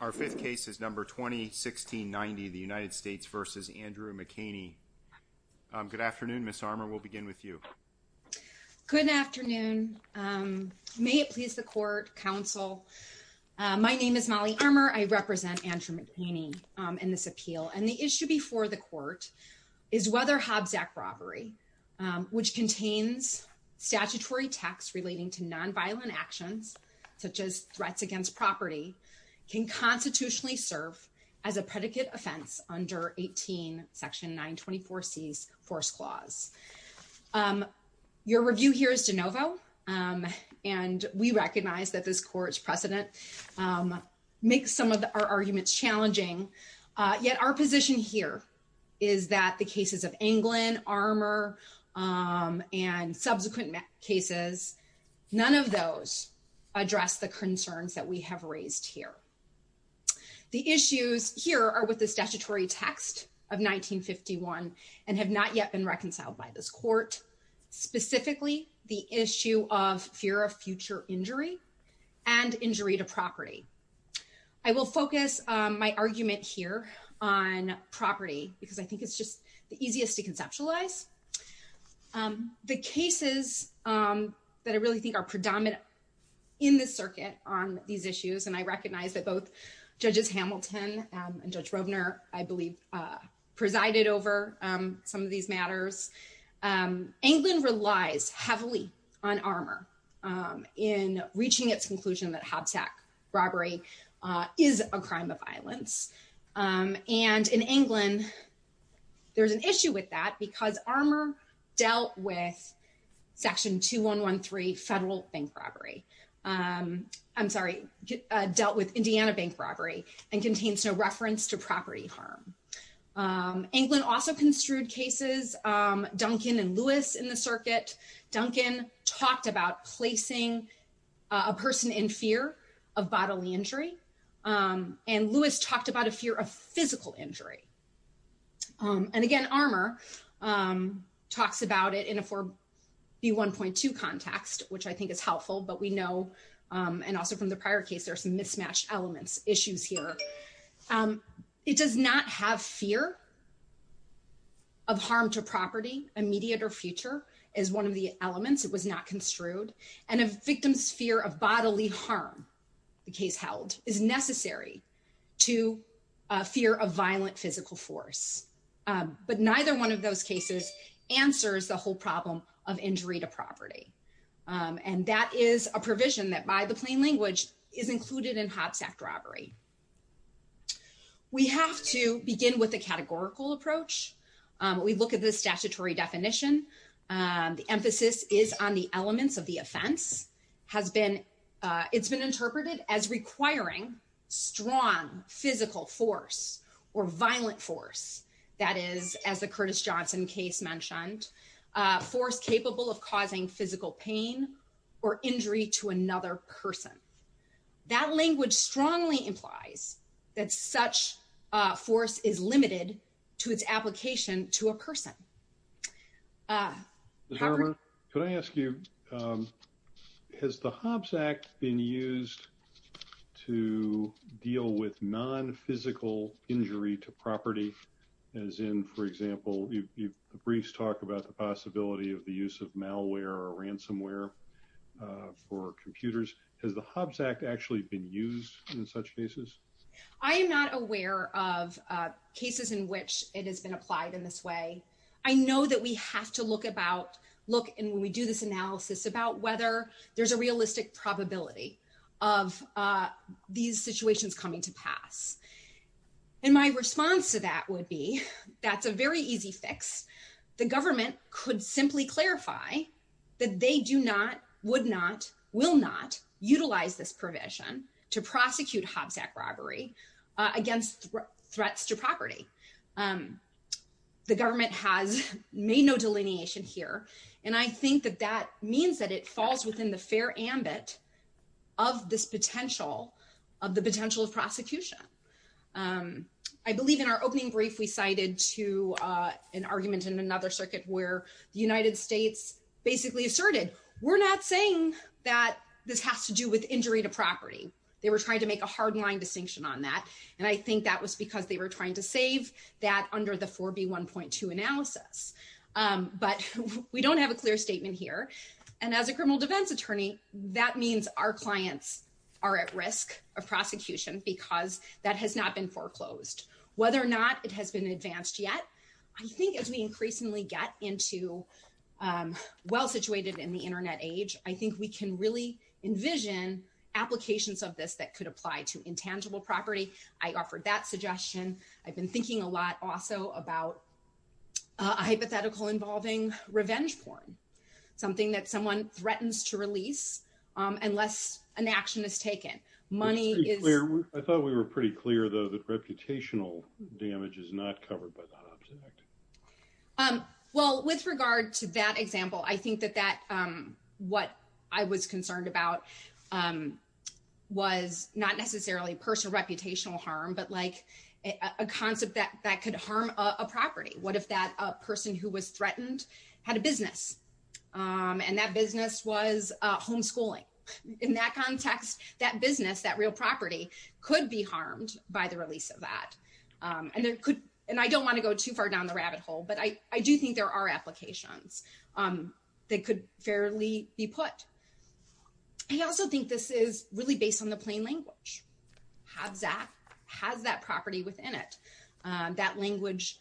Our fifth case is number 2016-90, the United States v. Andrew McHaney. Good afternoon, Ms. Armour. We'll begin with you. Good afternoon. May it please the court, counsel. My name is Molly Armour. I represent Andrew McHaney in this appeal. And the issue before the court is whether Hobbs Act robbery, which contains statutory tax relating to nonviolent actions, such as threats against property, can constitutionally serve as a predicate offense under 18 section 924C's force clause. Your review here is de novo. And we recognize that this court's precedent makes some of our arguments challenging. Yet our position here is that the cases of Anglin, Armour, and subsequent cases, none of those address the concerns that we have raised here. The issues here are with the statutory text of 1951 and have not yet been reconciled by this court, specifically the issue of fear of future injury and injury to property. I will focus my argument here on property because I think it's just the easiest to conceptualize. The cases that I really think are predominant in this circuit on these issues, and I recognize that both Judges Hamilton and Judge Rovner, I believe, presided over some of these matters. Anglin relies heavily on Armour in reaching its conclusion that Hobbs Act robbery is a crime of violence. And in Anglin, there's an issue with that because Armour dealt with section 2113 federal bank robbery, I'm sorry, dealt with Indiana bank robbery and contains no reference to property harm. Anglin also construed cases, Duncan and Lewis in the circuit, Duncan talked about placing a person in fear of bodily injury and Lewis talked about a fear of physical injury. And again, Armour talks about it in a 4B1.2 context, which I think is helpful, but we know, and also from the prior case, there are some mismatched elements, issues here. It does not have fear of harm to property, immediate or future, is one of the elements, it was not construed, and a victim's fear of bodily harm, the case held, is necessary to fear of violent physical force. But neither one of those cases answers the whole problem of injury to property. And that is a provision that by the plain language is included in Hobbs Act robbery. We have to begin with a categorical approach. We look at the statutory definition, the emphasis is on the elements of the offense, it's been interpreted as requiring strong physical force or violent force, that is, as the Curtis Johnson case mentioned, force capable of causing physical pain or injury to another person. That language strongly implies that such force is limited to its application to a person. Howard? Can I ask you, has the Hobbs Act been used to deal with non-physical injury to property, as in, for example, the briefs talk about the possibility of the use of malware or ransomware for computers, has the Hobbs Act actually been used in such cases? I am not aware of cases in which it has been applied in this way. I know that we have to look about, look, and when we do this analysis, about whether there's a realistic probability of these situations coming to pass. And my response to that would be, that's a very easy fix. The government could simply clarify that they do not, would not, will not utilize this provision to prosecute Hobbs Act robbery against threats to property. The government has made no delineation here, and I think that that means that it falls within the fair ambit of this potential, of the potential of prosecution. I believe in our opening brief, we cited to an argument in another circuit where the United States basically asserted, we're not saying that this has to do with injury to property. They were trying to make a hard line distinction on that. And I think that was because they were trying to save that under the 4B1.2 analysis. But we don't have a clear statement here. And as a criminal defense attorney, that means our clients are at risk of prosecution because that has not been foreclosed. Whether or not it has been advanced yet, I think as we increasingly get into, well situated in the internet age, I think we can really envision applications of this that could apply to intangible property. I offered that suggestion. I've been thinking a lot also about a hypothetical involving revenge porn, something that someone threatens to release unless an action is taken. Money is- It's pretty clear. I thought we were pretty clear though that reputational damage is not covered by that object. Well, with regard to that example, I think that what I was concerned about was not necessarily personal reputational harm, but like a concept that could harm a property. What if that person who was threatened had a business and that business was homeschooling? In that context, that business, that real property could be harmed by the release of that. And I don't want to go too far down the rabbit hole, but I do think there are applications that could fairly be put. I also think this is really based on the plain language. Habs Act has that property within it, that language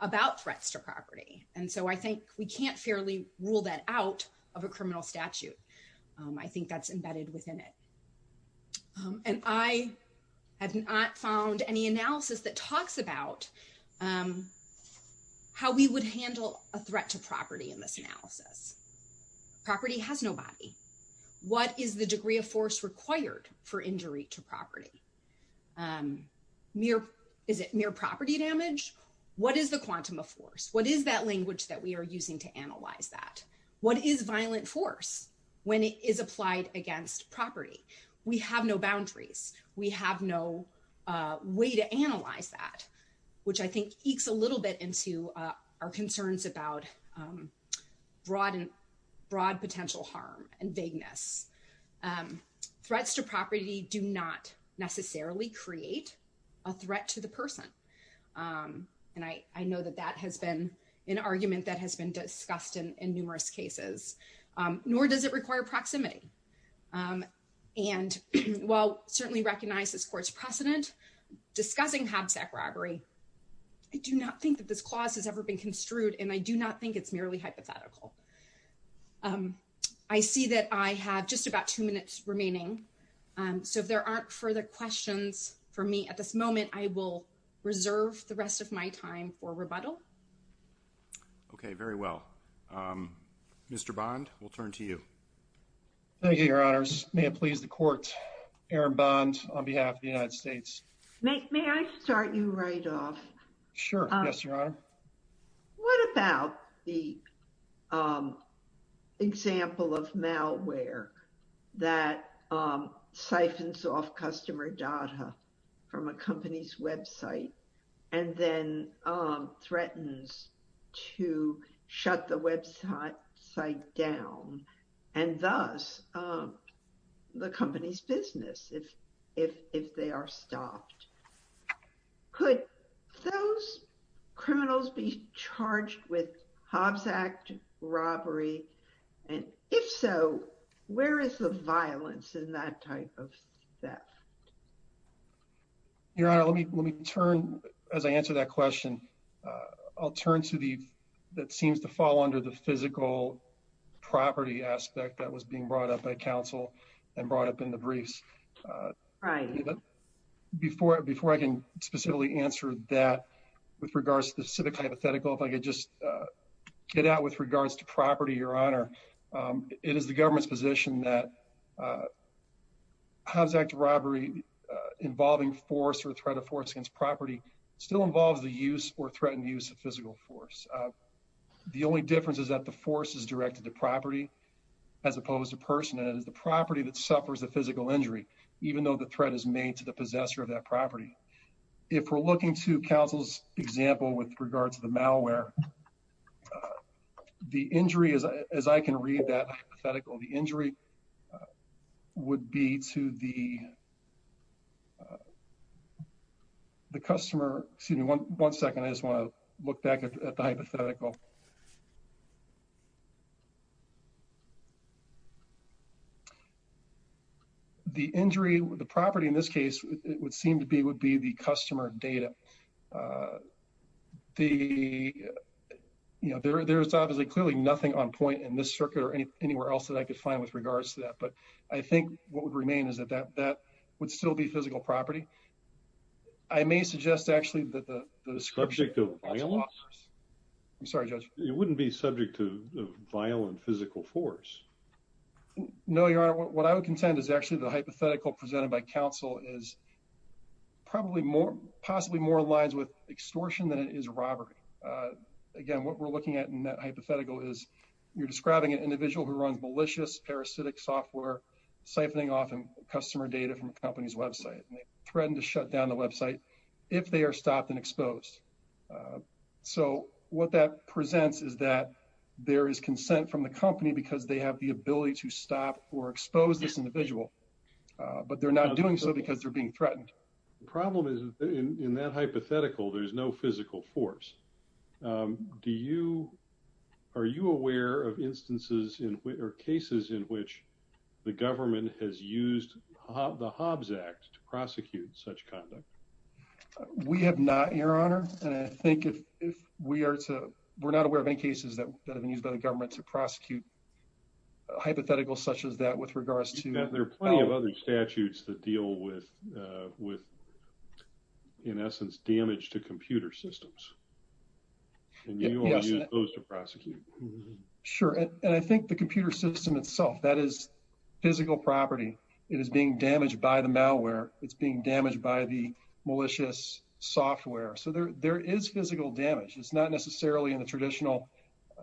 about threats to property. And so I think we can't fairly rule that out of a criminal statute. I think that's embedded within it. And I have not found any analysis that talks about how we would handle a threat to property in this analysis. Property has no body. What is the degree of force required for injury to property? Is it mere property damage? What is the quantum of force? What is that language that we are using to analyze that? What is violent force? When it is applied against property, we have no boundaries. We have no way to analyze that, which I think ekes a little bit into our concerns about broad potential harm and vagueness. Threats to property do not necessarily create a threat to the person. And I know that that has been an argument that has been discussed in numerous cases. Nor does it require proximity. And while I certainly recognize this court's precedent, discussing Habs Act robbery, I do not think that this clause has ever been construed. And I do not think it's merely hypothetical. I see that I have just about two minutes remaining. So if there aren't further questions from me at this moment, I will reserve the rest of my time for rebuttal. OK, very well. Mr. Bond, we'll turn to you. Thank you, Your Honors. May it please the court, Aaron Bond on behalf of the United States. May I start you right off? Sure. Yes, Your Honor. What about the example of malware that siphons off customer data from a company's website and then threatens to shut the website down and thus the company's business if they are stopped? Could those criminals be charged with Habs Act robbery? And if so, where is the violence in that type of theft? Your Honor, let me turn, as I answer that question, I'll turn to the, that seems to fall under the physical property aspect that was being brought up by counsel and brought up in the briefs. Before I can specifically answer that, with regards to the specific hypothetical, if I could just get out with regards to property, Your Honor, it is the government's position that Habs Act robbery involving force or threat of force against property still involves the use or threatened use of physical force. The only difference is that the force is directed to property as opposed to person, and it is the property that suffers the physical injury, even though the threat is made to the possessor of that property. If we're looking to counsel's example with regards to the malware, the injury, as I can read that hypothetical, the injury would be to the, the customer, excuse me, one second, I just want to look back at the hypothetical. The injury, the property in this case, it would seem to be, would be the customer data. Uh, the, you know, there, there's obviously clearly nothing on point in this circuit or anywhere else that I could find with regards to that, but I think what would remain is that that, that would still be physical property. I may suggest actually that the description of violence, I'm sorry, Judge, it wouldn't be subject to violent physical force. No, Your Honor, what I would contend is actually the hypothetical presented by counsel is probably more, possibly more in lines with extortion than it is robbery. Again, what we're looking at in that hypothetical is you're describing an individual who runs malicious, parasitic software, siphoning off customer data from a company's website, and they threaten to shut down the website if they are stopped and exposed. So what that presents is that there is consent from the company because they have the ability to stop or expose this individual, but they're not doing so because they're being threatened. The problem is in that hypothetical, there's no physical force. Do you, are you aware of instances or cases in which the government has used the Hobbs Act to prosecute such conduct? We have not, Your Honor, and I think if we are to, we're not aware of any cases that have been used by the government to prosecute hypotheticals such as that with regards to- There are plenty of other statutes that deal with, in essence, damage to computer systems, and you only use those to prosecute. Sure, and I think the computer system itself, that is physical property. It is being damaged by the malware. It's being damaged by the malicious software. So there is physical damage. It's not necessarily in the traditional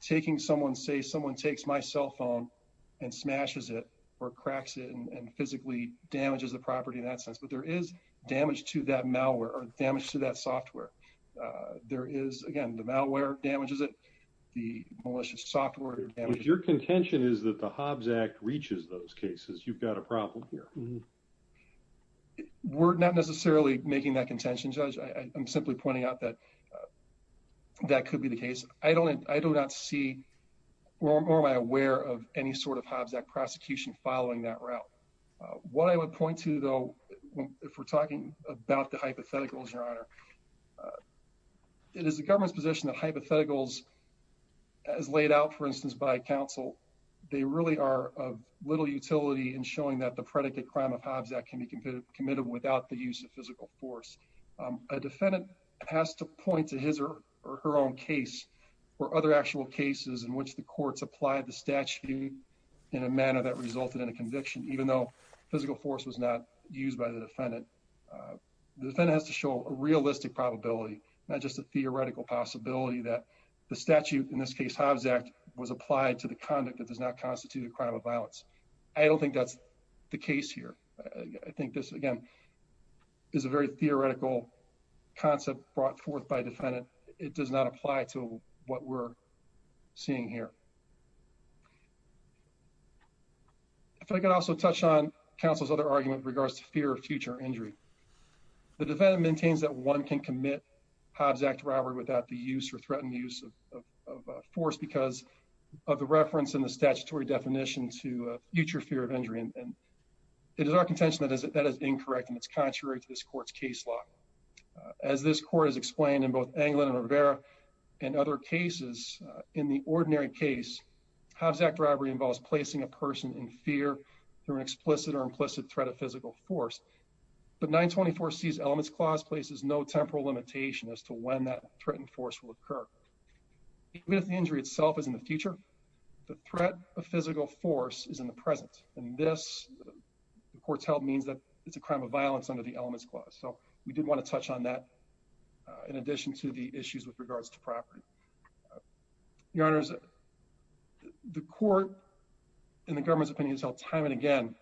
taking someone, say someone takes my cell phone and smashes it or cracks it and physically damages the property in that sense, but there is damage to that malware or damage to that software. There is, again, the malware damages it, the malicious software damages it. Your contention is that the Hobbs Act reaches those cases. You've got a problem here. We're not necessarily making that contention, Judge. I'm simply pointing out that that could be the case. I do not see or am I aware of any sort of Hobbs Act prosecution following that route. What I would point to, though, if we're talking about the hypotheticals, Your Honor, it is the government's position that hypotheticals, as laid out, for instance, by counsel, they really are of little utility in showing that the predicate crime of Hobbs Act can be committed without the use of physical force. A defendant has to point to his or her own case or other actual cases in which the courts applied the statute in a manner that resulted in a conviction, even though physical force was not used by the defendant. The defendant has to show a realistic probability, not just a theoretical possibility, that the statute, in this case Hobbs Act, was applied to the conduct that does not constitute a crime of violence. I don't think that's the case here. I think this, again, is a very theoretical concept brought forth by a defendant. It does not apply to what we're seeing here. If I could also touch on counsel's other argument in regards to fear of future injury. The defendant maintains that one can commit Hobbs Act robbery without the use or threatened use of force because of the reference in the statutory definition to a future fear of injury. It is our contention that that is incorrect and it's contrary to this court's case law. As this court has explained in both Anglin and Rivera and other cases, in the ordinary case, Hobbs Act robbery involves placing a person in fear through an explicit or implicit threat of physical force. But 924C's elements clause places no temporal limitation as to when that threatened force will occur. Even if the injury itself is in the future, the threat of physical force is in the present. And this, the court's held, means that it's a crime of violence under the elements clause. So we did want to touch on that in addition to the issues with regards to property. Your Honors, the court and the government's opinion has held time and again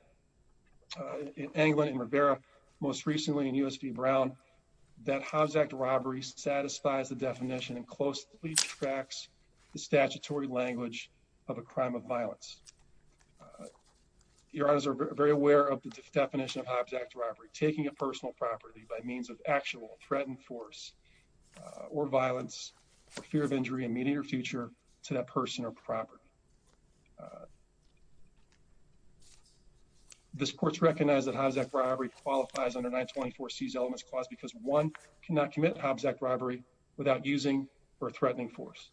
in Anglin and Rivera, most recently in US v. Brown, that Hobbs Act robbery satisfies the definition and closely tracks the statutory language of a crime of violence. Your Honors are very aware of the definition of Hobbs Act robbery, taking a personal property by means of actual threatened force or violence for fear of injury in the immediate future to that person or property. This court's recognized that Hobbs Act robbery qualifies under 924C's elements clause because one cannot commit Hobbs Act robbery without using or threatening force.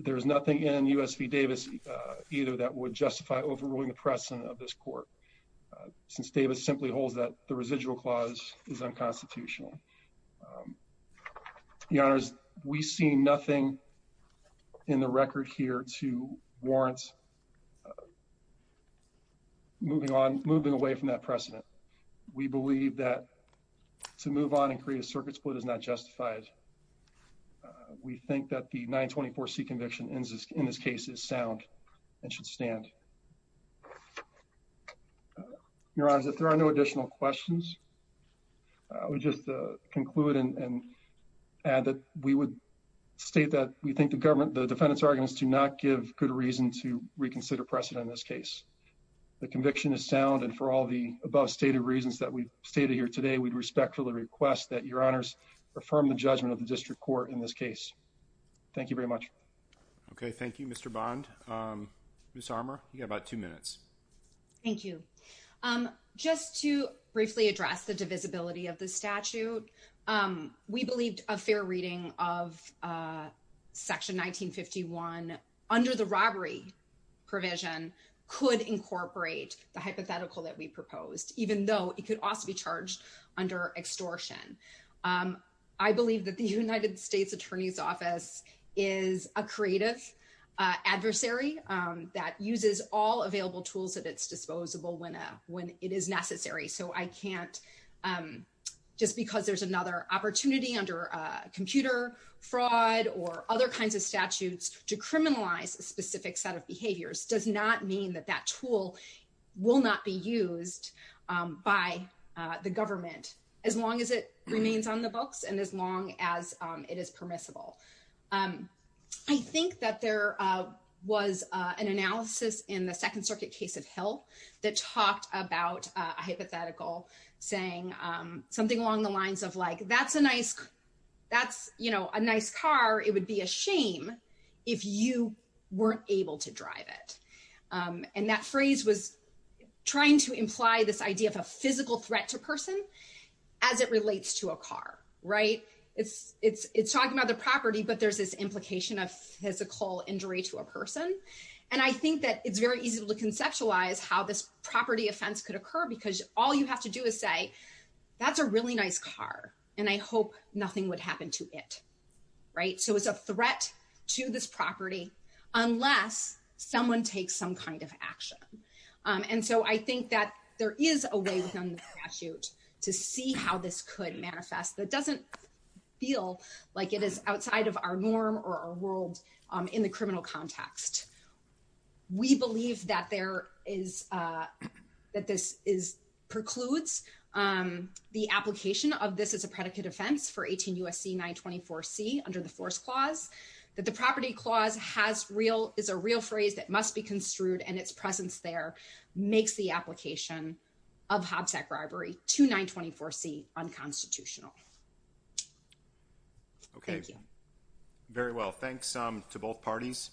There is nothing in US v. Davis either that would justify overruling the precedent of this court, since Davis simply holds that the residual clause is unconstitutional. Your Honors, we see nothing in the record here to warrant moving on, moving away from that precedent. We believe that to move on and create a circuit split is not justified. We think that the 924C conviction in this case is sound and should stand. Your Honors, if there are no additional questions, I would just conclude and add that we would state that we think the defendant's arguments do not give good reason to reconsider precedent in this case. The conviction is sound and for all the above stated reasons that we've stated here today, we'd respectfully request that Your Honors affirm the judgment of the district court in this case. Thank you very much. Okay. Thank you, Mr. Bond. Ms. Armour, you got about two minutes. Thank you. Just to briefly address the divisibility of the statute, we believed a fair reading of Section 1951 under the robbery provision could incorporate the hypothetical that we proposed, even though it could also be charged under extortion. I believe that the United States Attorney's Office is a creative adversary that uses all available tools at its disposable when it is necessary. I can't just because there's another opportunity under computer fraud or other kinds of statutes to criminalize a specific set of behaviors does not mean that that tool will not be used by the government as long as it remains on the books and as long as it is permissible. I think that there was an analysis in the Second Circuit case of Hill that talked about a hypothetical saying something along the lines of, like, that's a nice car. It would be a shame if you weren't able to drive it. And that phrase was trying to imply this idea of a physical threat to a person as it relates to a car, right? It's talking about the property, but there's this implication of physical injury to a person. And I think that it's very easy to conceptualize how this property offense could occur because all you have to do is say, that's a really nice car, and I hope nothing would happen to it, right? So it's a threat to this property unless someone takes some kind of action. And so I think that there is a way within the statute to see how this could manifest that doesn't feel like it is outside of our norm or our world in the criminal context. We believe that this precludes the application of this as a predicate offense for 18 U.S.C. 924C under the Force Clause, that the Property Clause is a real phrase that must be construed, and its presence there makes the application of Hobbs Act bribery to 924C unconstitutional. Thank you. Okay, very well. Thanks to both parties.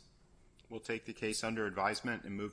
We'll take the case under advisement and move.